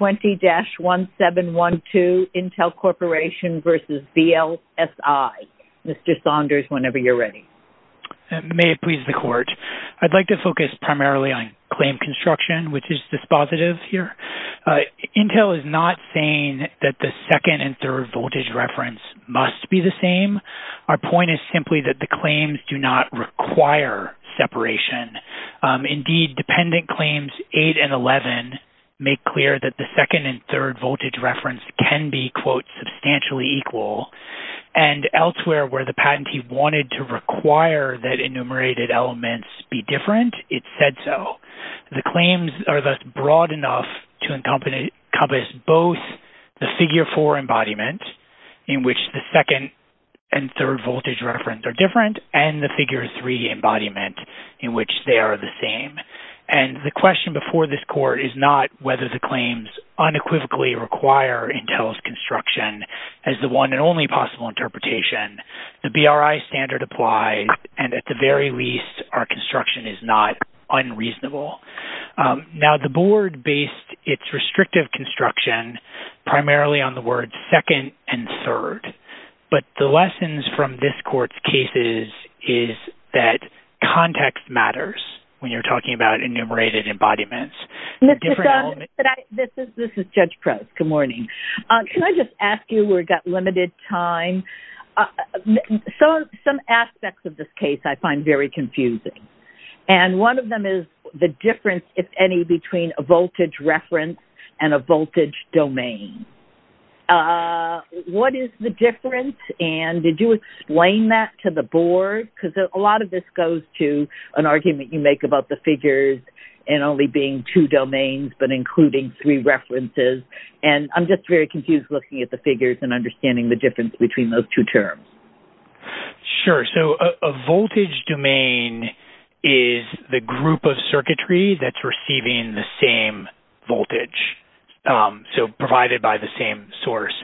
20-1712 Intel Corporation v. VLSI. Mr. Saunders, whenever you're ready. May it please the court. I'd like to focus primarily on claim construction, which is dispositive here. Intel is not saying that the second and third voltage reference must be the same. Our point is simply that the claims do not require separation. Indeed, dependent claims 8 and 11 make clear that the second and third voltage reference can be quote, substantially equal. And elsewhere where the patentee wanted to require that enumerated elements be different, it said so. The claims are thus broad enough to encompass both the figure four embodiment, in which the second and third voltage reference are different, and the figure three embodiment, in which they are the same. And the question before this court is not whether the claims unequivocally require Intel's construction as the one and only possible interpretation. The BRI standard applies. And at the very least, our construction is not unreasonable. Now the board based its restrictive construction primarily on the word second and third. But the that context matters when you're talking about enumerated embodiments. This is Judge Prez. Good morning. Can I just ask you, we've got limited time. Some aspects of this case I find very confusing. And one of them is the difference, if any, between a voltage reference and a voltage domain. What is the difference? And did you explain that to the board? Because a lot of this goes to an argument you make about the figures and only being two domains, but including three references. And I'm just very confused looking at the figures and understanding the difference between those two terms. Sure. So a voltage domain is the group of circuitry that's receiving the same voltage, so provided by the same source.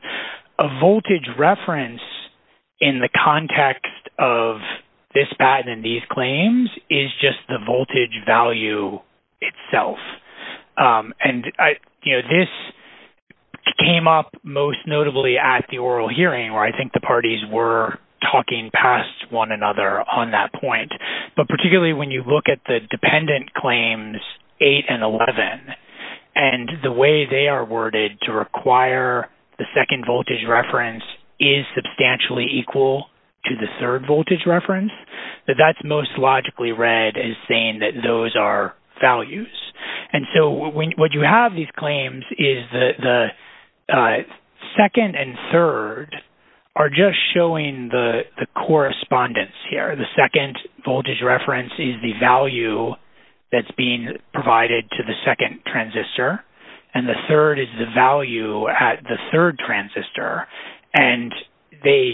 A voltage reference in the context of this patent and these claims is just the voltage value itself. And this came up most notably at the oral hearing, where I think the parties were talking past one another on that point. But particularly when you look at the dependent claims 8 and 11, and the way they are worded to require the second voltage reference is substantially equal to the third voltage reference, that that's most logically read as saying that those are values. And so what you have these claims is the second and third are just showing the correspondence here. The second voltage reference is the value that's being provided to the second transistor, and the third is the value at the third transistor. And the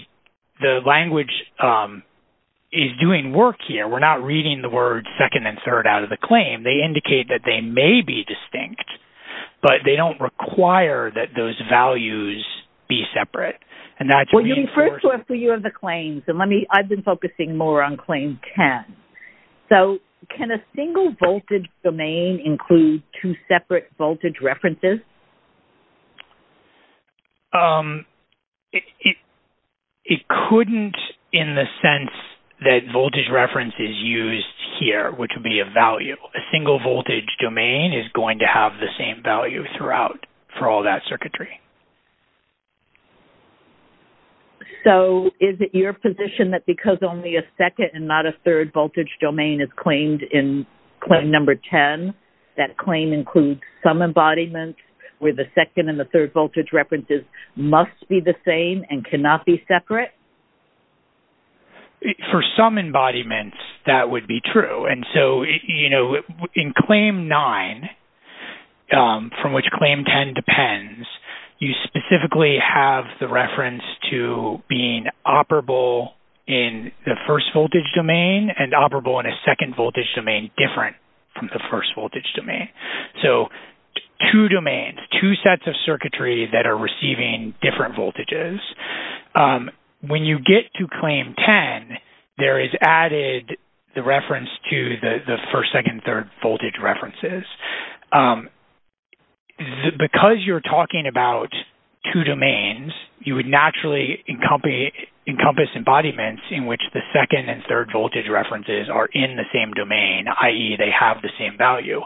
language is doing work here. We're not reading the word second and third out of the claim. They indicate that they may be distinct, but they don't require that those values be a natural source. Well, you refer to a few of the claims, and I've been focusing more on claim 10. So can a single voltage domain include two separate voltage references? It couldn't in the sense that voltage reference is used here, which would be a value. A single voltage domain is going to have the same value throughout for all that circuitry. So is it your position that because only a second and not a third voltage domain is claimed in claim number 10, that claim includes some embodiments where the second and the third voltage references must be the same and cannot be separate? For some embodiments, that would be true. And so in claim 9, from which claim 10 depends, you specifically have the reference to being operable in the first voltage domain and operable in a second voltage domain different from the first voltage domain. So two domains, two sets of circuitry that are receiving different voltages. When you get to claim 10, there is added the reference to the first, second, third voltage references. Because you're talking about two domains, you would naturally encompass embodiments in which the second and third voltage references are in the same domain, i.e. they have the same value.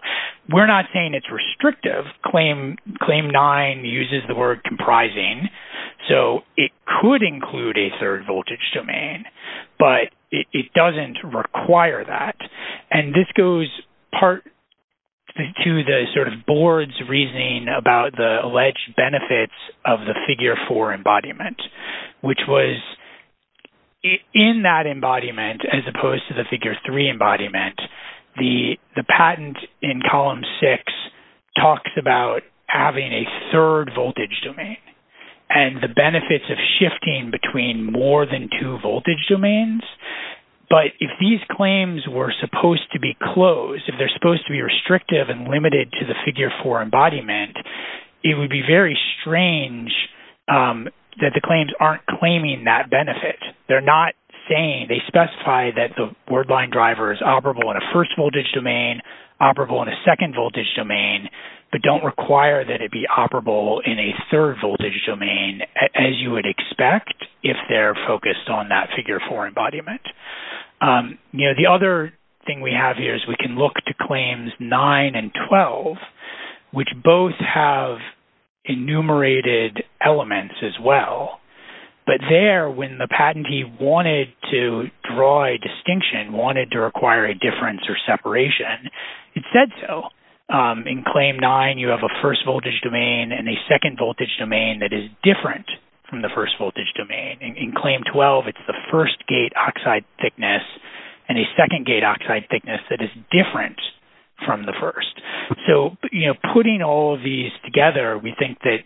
We're not saying it's restrictive. Claim 9 uses the word comprising. So it could include a third voltage domain, but it doesn't require that. And this goes part to the sort of board's reasoning about the alleged benefits of the figure 4 embodiment, which was in that embodiment as opposed to the figure 3 embodiment, the patent in column 6 talks about having a third voltage domain and the benefits of shifting between more than two voltage domains. But if these claims were supposed to be closed, if they're supposed to be restrictive and limited to the figure 4 embodiment, it would be very strange that the claims aren't claiming that benefit. They specify that the wordline driver is operable in a first domain, operable in a second voltage domain, but don't require that it be operable in a third voltage domain, as you would expect if they're focused on that figure 4 embodiment. The other thing we have here is we can look to claims 9 and 12, which both have enumerated elements as well. But there, when the patentee wanted to draw a distinction, wanted to require a difference or separation, it said so. In claim 9, you have a first voltage domain and a second voltage domain that is different from the first voltage domain. In claim 12, it's the first gate oxide thickness and a second gate oxide thickness that is different from the first. So, you know, putting all of these together, we think that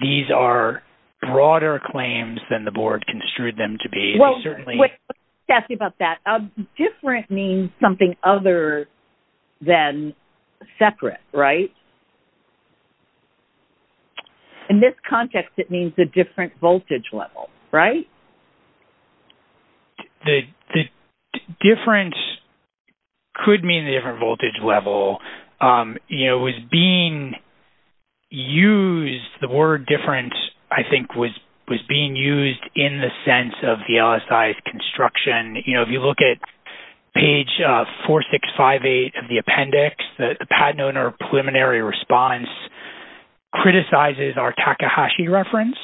these are broader claims than the board construed them to be. Well, let's ask you about that. Different means something other than separate, right? In this context, it means a different voltage level, right? The difference could mean a different voltage level. You know, it was being used, the word difference, I think, was being used in the sense of the LSI's construction. You know, if you look at page 4658 of the appendix, the patent owner preliminary response criticizes our Takahashi reference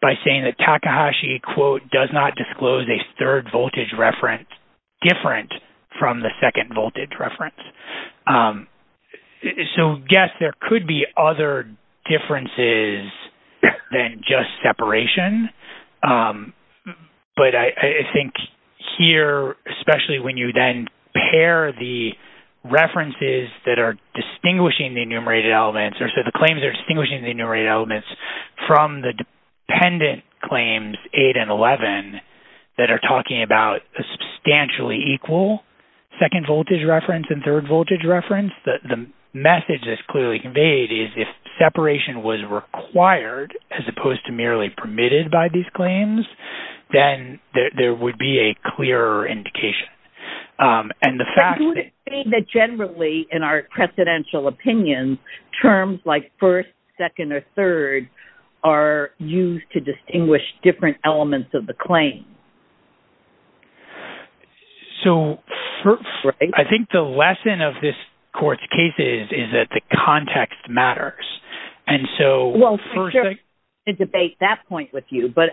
by saying that Takahashi, quote, does not disclose a third voltage reference different from the second voltage reference. So, yes, there could be other differences than just separation, but I think here, especially when you then pair the references that are distinguishing the enumerated elements, or so the claims are distinguishing the enumerated elements from the dependent claims 8 and 11 that are talking about a substantially equal second voltage reference and third voltage reference, the message is clearly conveyed is if separation was required as opposed to merely permitted by these claims, then there would be a clearer indication. And the fact that... So, I think the lesson of this court's case is that the context matters. And so... Well, I'm going to debate that point with you, but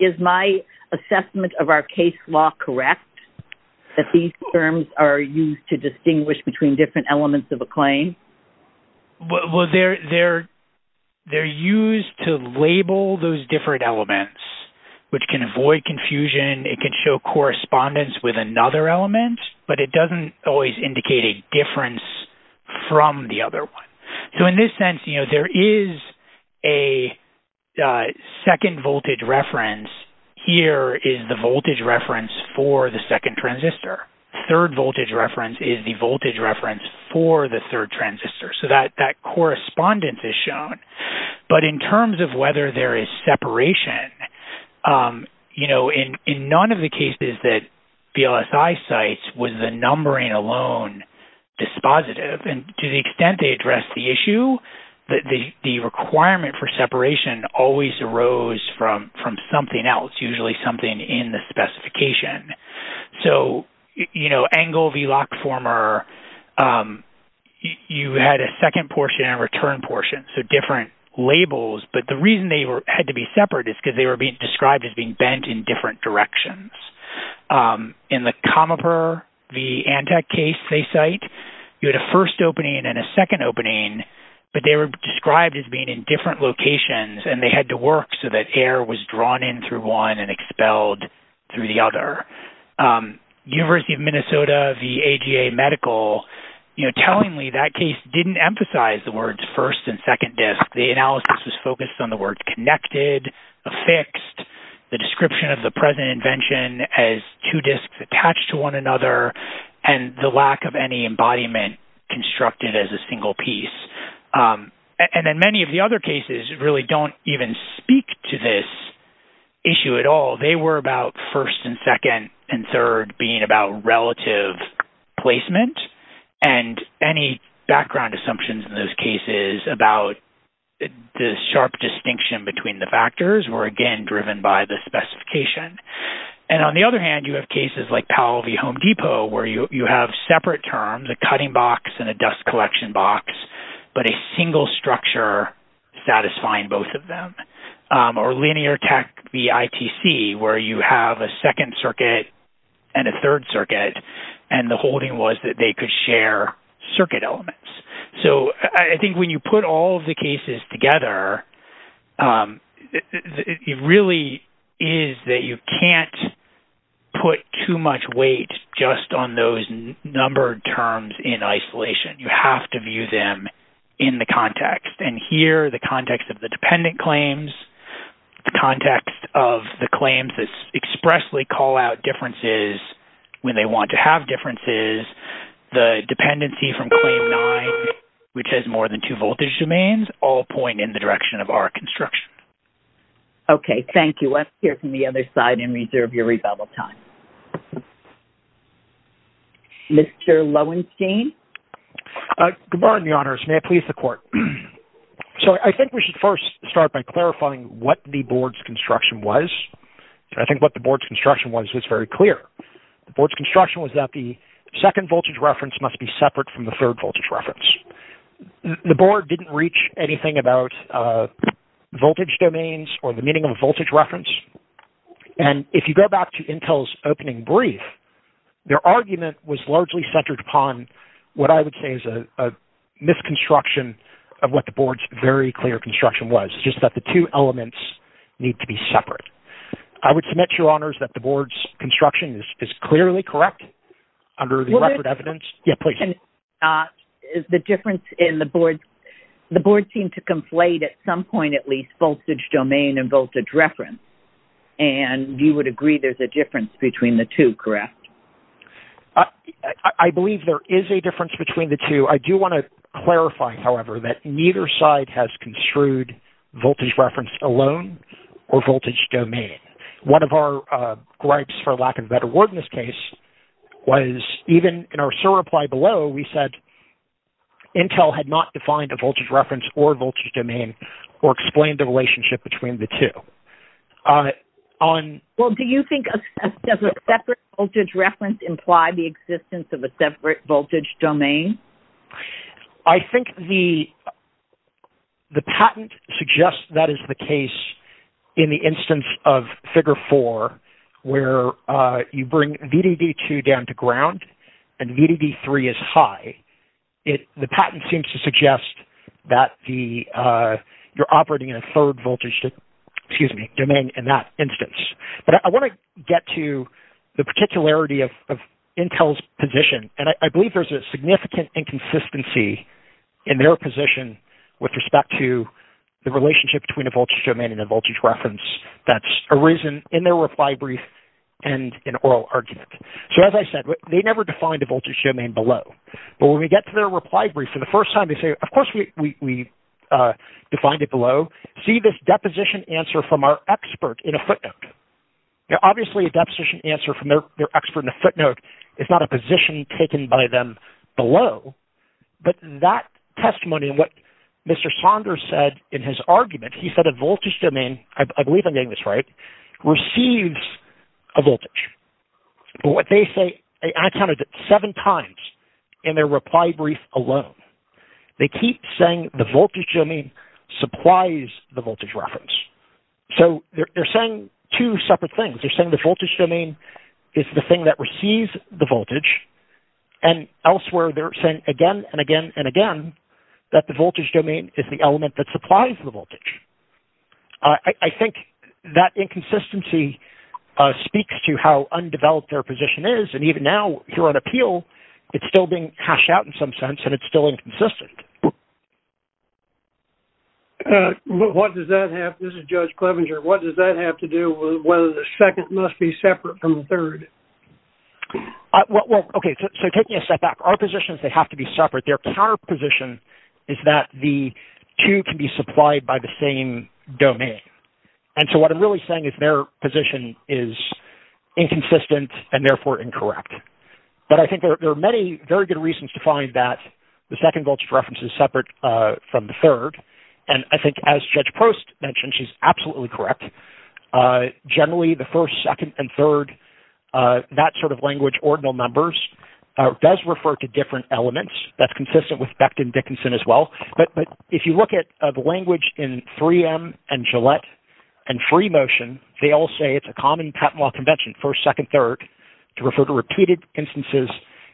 is my assessment of our case law correct? That these terms are used to distinguish between different elements of a claim? Well, they're used to label those different elements, which can avoid confusion. It can show correspondence with another element, but it doesn't always indicate a difference from the other one. So, in this sense, you know, there is a second voltage reference. Here is the voltage reference for the second transistor. Third voltage reference is the transistor. So, that correspondence is shown. But in terms of whether there is separation, you know, in none of the cases that VLSI cites was the numbering alone dispositive. And to the extent they address the issue, the requirement for separation always arose from something else, usually something in the specification. So, you know, you had a second portion and a return portion, so different labels. But the reason they had to be separate is because they were being described as being bent in different directions. In the Comiper v. Antec case they cite, you had a first opening and a second opening, but they were described as being in different locations, and they had to work so that air was drawn in through one and expelled through the other. University of Minnesota v. AGA Medical, you know, tellingly, that case didn't emphasize the words first and second disk. The analysis was focused on the word connected, affixed, the description of the present invention as two disks attached to one another, and the lack of any embodiment constructed as a single piece. And then many of the other cases really don't even speak to this issue at all. They were about first and second and third being about relative placement, and any background assumptions in those cases about the sharp distinction between the factors were, again, driven by the specification. And on the other hand, you have cases like Powell v. Home Depot where you have separate terms, a cutting box and a dust collection box, but a single structure satisfying both of them. Or Linear Tech v. ITC where you have a second circuit and a third circuit, and the holding was that they could share circuit elements. So I think when you put all of the cases together, it really is that you can't put too much weight just on those numbered terms in isolation. You have to view them in the context. And here, the context of the dependent claims, the context of the claims that expressly call out differences when they want to have differences, the dependency from claim nine, which has more than two voltage domains, all point in the direction of our construction. Okay. Thank you. Let's hear from the other side and reserve your time. Mr. Lowenstein? Good morning, your honors. May it please the court. So I think we should first start by clarifying what the board's construction was. I think what the board's construction was is very clear. The board's construction was that the second voltage reference must be separate from the third voltage reference. The board didn't reach anything about voltage domains or the meaning of a voltage reference. And if you go back to Intel's opening brief, their argument was largely centered upon what I would say is a misconstruction of what the board's very clear construction was. It's just that the two elements need to be separate. I would submit, your honors, that the board's construction is clearly correct under the record evidence. Yeah, please. The board seemed to conflate at some point, at least, voltage domain and voltage reference. And you would agree there's a difference between the two, correct? I believe there is a difference between the two. I do want to clarify, however, that neither side has construed voltage reference alone or voltage domain. One of our gripes, for lack of a better word in this case, was even in our sore reply below, we said Intel had not defined a voltage reference or voltage domain or explained the relationship between the two. Well, do you think a separate voltage reference implied the existence of a separate voltage domain? I think the patent suggests that is the case in the instance of you bring VDD2 down to ground and VDD3 is high. The patent seems to suggest that you're operating in a third voltage domain in that instance. But I want to get to the particularity of Intel's position. And I believe there's a significant inconsistency in their position with respect to the relationship between a voltage domain and a voltage reference that's arisen in their reply brief and in oral argument. So as I said, they never defined a voltage domain below. But when we get to their reply brief for the first time, they say, of course, we defined it below. See this deposition answer from our expert in a footnote. Now, obviously, a deposition answer from their expert in a footnote is not a position taken by them below. But that testimony and what Mr. Saunders said in his argument, he said a voltage domain, I believe I'm getting this right, receives a voltage. But what they say, I counted it seven times in their reply brief alone. They keep saying the voltage domain supplies the voltage reference. So they're saying two separate things. They're saying the voltage domain is the thing that receives the voltage. And elsewhere, they're saying again and again and again that the voltage domain is the element that supplies the voltage. I think that inconsistency speaks to how undeveloped their position is. And even now, here on appeal, it's still being hashed out in some sense, and it's still inconsistent. This is Judge Clevenger. What does that have to do with whether the second must be separate from the third? Okay, so taking a step back, our positions, they have to be separate. Their counterposition is that the two can be supplied by the same domain. And so what I'm really saying is their position is inconsistent, and therefore incorrect. But I think there are many very good reasons to find that the second voltage reference is separate from the third. And I think as Judge Post mentioned, she's absolutely correct. Generally, the first, second, and third, that sort of language, ordinal numbers, does refer to different elements. That's consistent with Beckton-Dickinson as well. But if you look at the language in 3M and Gillette and free motion, they all say it's a common patent law convention, first, second, third, to refer to repeated instances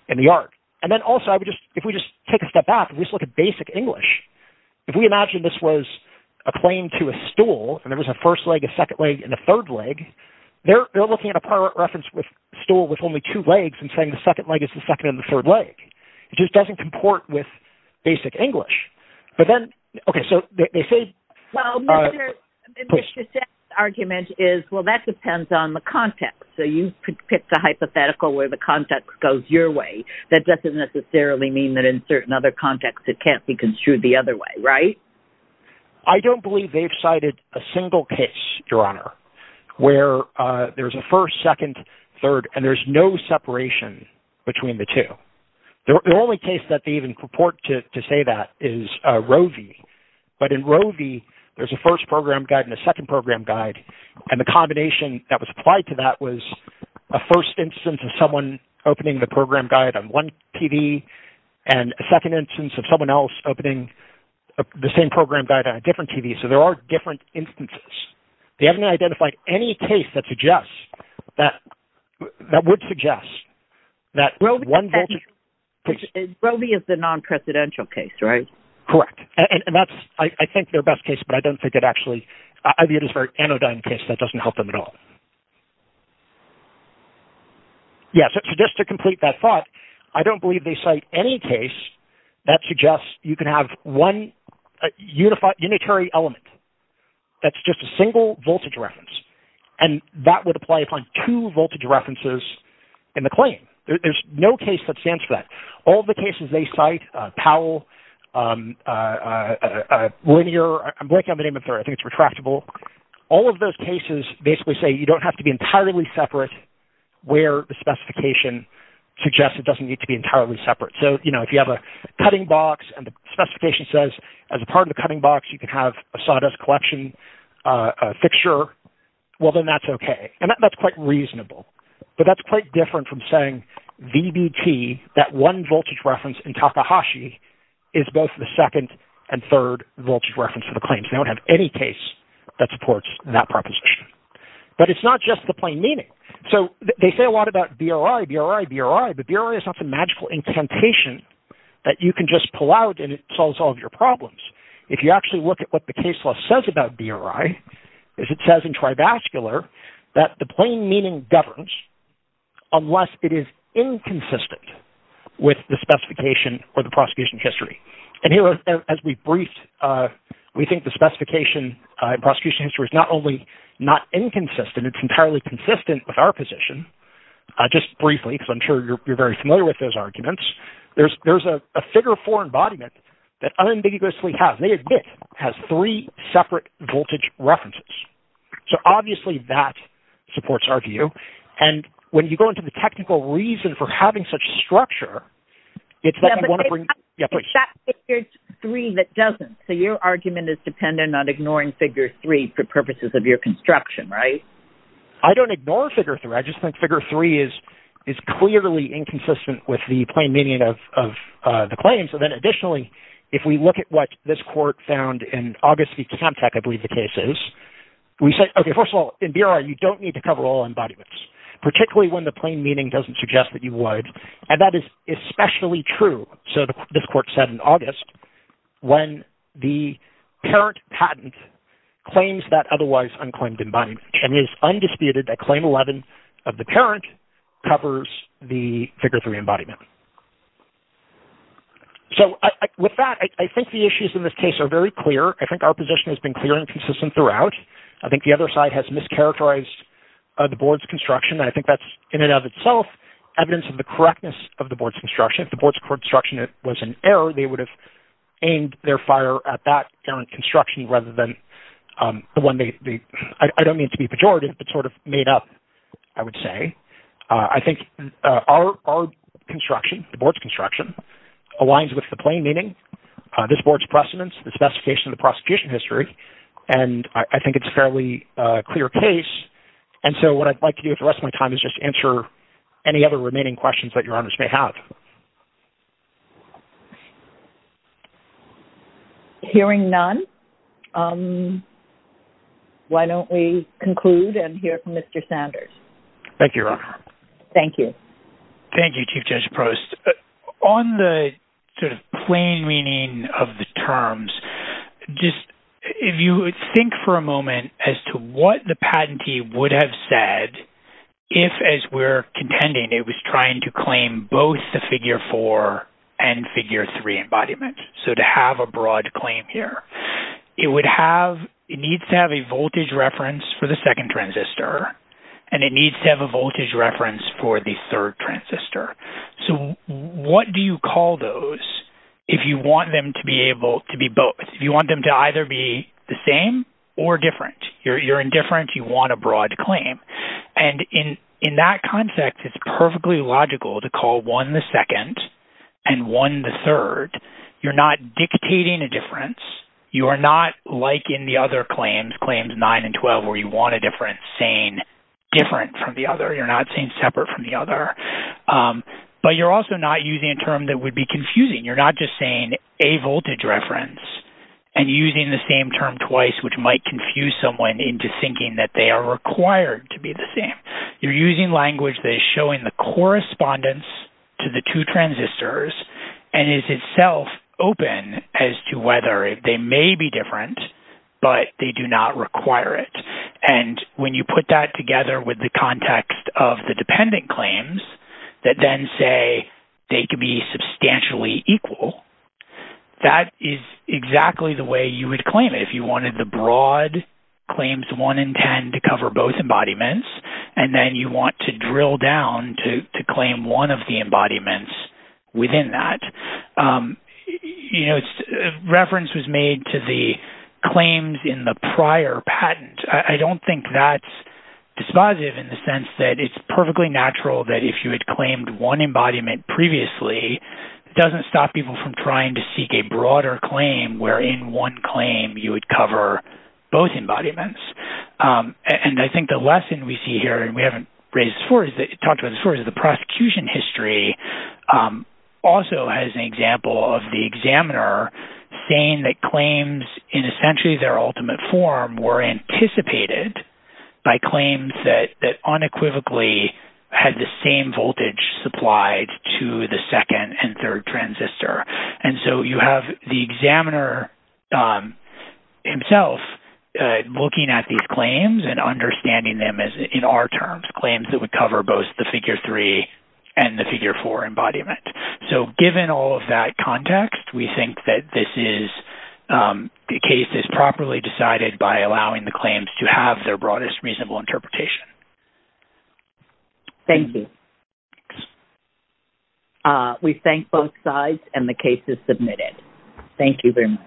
in the art. And then also, if we just take a step back and just look at basic English, if we imagine this was a plane to a stool, and there was a first leg, a second leg, and a third leg, they're looking at a pilot reference stool with only two legs and saying the second leg is the second and the third leg. It just doesn't comport with basic English. But then, okay, so they say... Well, Mr. Sext argument is, well, that depends on the context. So you could pick the hypothetical where the context goes your way. That doesn't necessarily mean that in certain other contexts, it can't be construed the other way, right? I don't believe they've cited a single case, Your Honor, where there's a first, second, third, and there's no separation between the two. The only case that they even purport to say that is Roe v. But in Roe v., there's a first program guide and a second program guide. And the combination that was applied to that was a first instance of someone opening the program guide on one TV and a second instance of someone opening the same program guide on a different TV. So there are different instances. They haven't identified any case that would suggest that one... Roe v. is the non-presidential case, right? Correct. And that's, I think, their best case, but I don't think it actually... I view it as a very anodyne case that doesn't help them at all. Yeah, so just to complete that thought, I don't believe they cite any case that suggests you can have one unitary element that's just a single voltage reference. And that would apply upon two voltage references in the claim. There's no case that stands for that. All the cases they cite, Powell, Linear... I'm blanking on the name of the third. I think it's Retractable. All of those cases basically say you don't have to be entirely separate where the specification suggests it doesn't need to be entirely separate. So, you know, if you have a cutting box and the specification says, as a part of the cutting box, you can have a sawdust collection fixture, well, then that's OK. And that's quite reasonable. But that's quite different from saying VBT, that one voltage reference in Takahashi, is both the second and third voltage reference for the claims. They don't have any case that supports that proposition. But it's not just the plain meaning. So they say a lot about BRI, BRI, BRI, but BRI is not some magical incantation that you can just pull out and it solves all of your problems. If you actually look at what the case law says about BRI, is it says in trivascular that the plain meaning governs unless it is inconsistent with the specification or the is not only not inconsistent, it's entirely consistent with our position. Just briefly, because I'm sure you're very familiar with those arguments. There's a figure four embodiment that unambiguously has, they admit, has three separate voltage references. So obviously, that supports our view. And when you go into the technical reason for having such structure, it's that they want to your construction, right? I don't ignore figure three, I just think figure three is, is clearly inconsistent with the plain meaning of the claim. So then additionally, if we look at what this court found in August, the contact, I believe the case is, we say, okay, first of all, in BRI, you don't need to cover all embodiments, particularly when the plain meaning doesn't suggest that you would. And that is especially true. So this court said in August, when the parent patent claims that otherwise unclaimed embodiment and is undisputed that claim 11 of the parent covers the figure three embodiment. So with that, I think the issues in this case are very clear. I think our position has been clear and consistent throughout. I think the other side has mischaracterized the board's construction. I think that's in and of itself, evidence of the correctness of the board's construction. If the board's construction was an error, they would have aimed their fire at that current construction rather than the one they, I don't mean to be pejorative, but sort of made up, I would say. I think our construction, the board's construction aligns with the plain meaning, this board's precedents, the specification of the prosecution history. And I think it's a fairly clear case. And so what I'd like to do with the rest of my time is just answer any other remaining questions that your honors may have. Hearing none, why don't we conclude and hear from Mr. Sanders? Thank you, your honor. Thank you. Thank you, Chief Judge Prost. On the sort of plain meaning of the terms, just if you would think for a moment as to what the patentee would have said, if as we're contending, it was trying to claim both the figure four and figure three embodiment. So to have a broad claim here, it would have, it needs to have a voltage reference for the second transistor, and it needs to have a voltage reference for the third transistor. So what do you call those if you want them to be able to be both, if you want them to either be the same or different? You're indifferent, you want a broad claim. And in that context, it's perfectly logical to call one the second and one the third. You're not dictating a difference. You are not like in the other claims, claims nine and 12, where you want a difference saying different from the other. You're not saying separate from the other. But you're also not using a term that would be confusing. You're not just saying a voltage reference and using the same term twice, which might confuse someone into thinking that they are required to be the same. You're using language that is showing the correspondence to the two transistors and is itself open as to whether they may be different, but they do not require it. And when you put that together with the context of the dependent claims that then say they could be substantially equal, that is exactly the way you would claim it if you wanted the broad claims one and 10 to cover both embodiments. And then you want to drill down to claim one of the embodiments within that. Reference was made to the claims in the prior patent. I don't think that's dispositive in the sense that it's perfectly natural that if you had claimed one embodiment previously, it doesn't stop people from trying to seek a broader claim where in one claim you would cover both embodiments. And I think the lesson we see here, and we haven't talked about as far as the prosecution history, also has an example of the examiner saying that claims in essentially their unequivocally had the same voltage supplied to the second and third transistor. And so you have the examiner himself looking at these claims and understanding them as in our terms, claims that would cover both the figure three and the figure four embodiment. So given all of that context, we think that this is the case is properly decided by allowing the case to be submitted. Thank you. We thank both sides and the case is submitted. Thank you very much.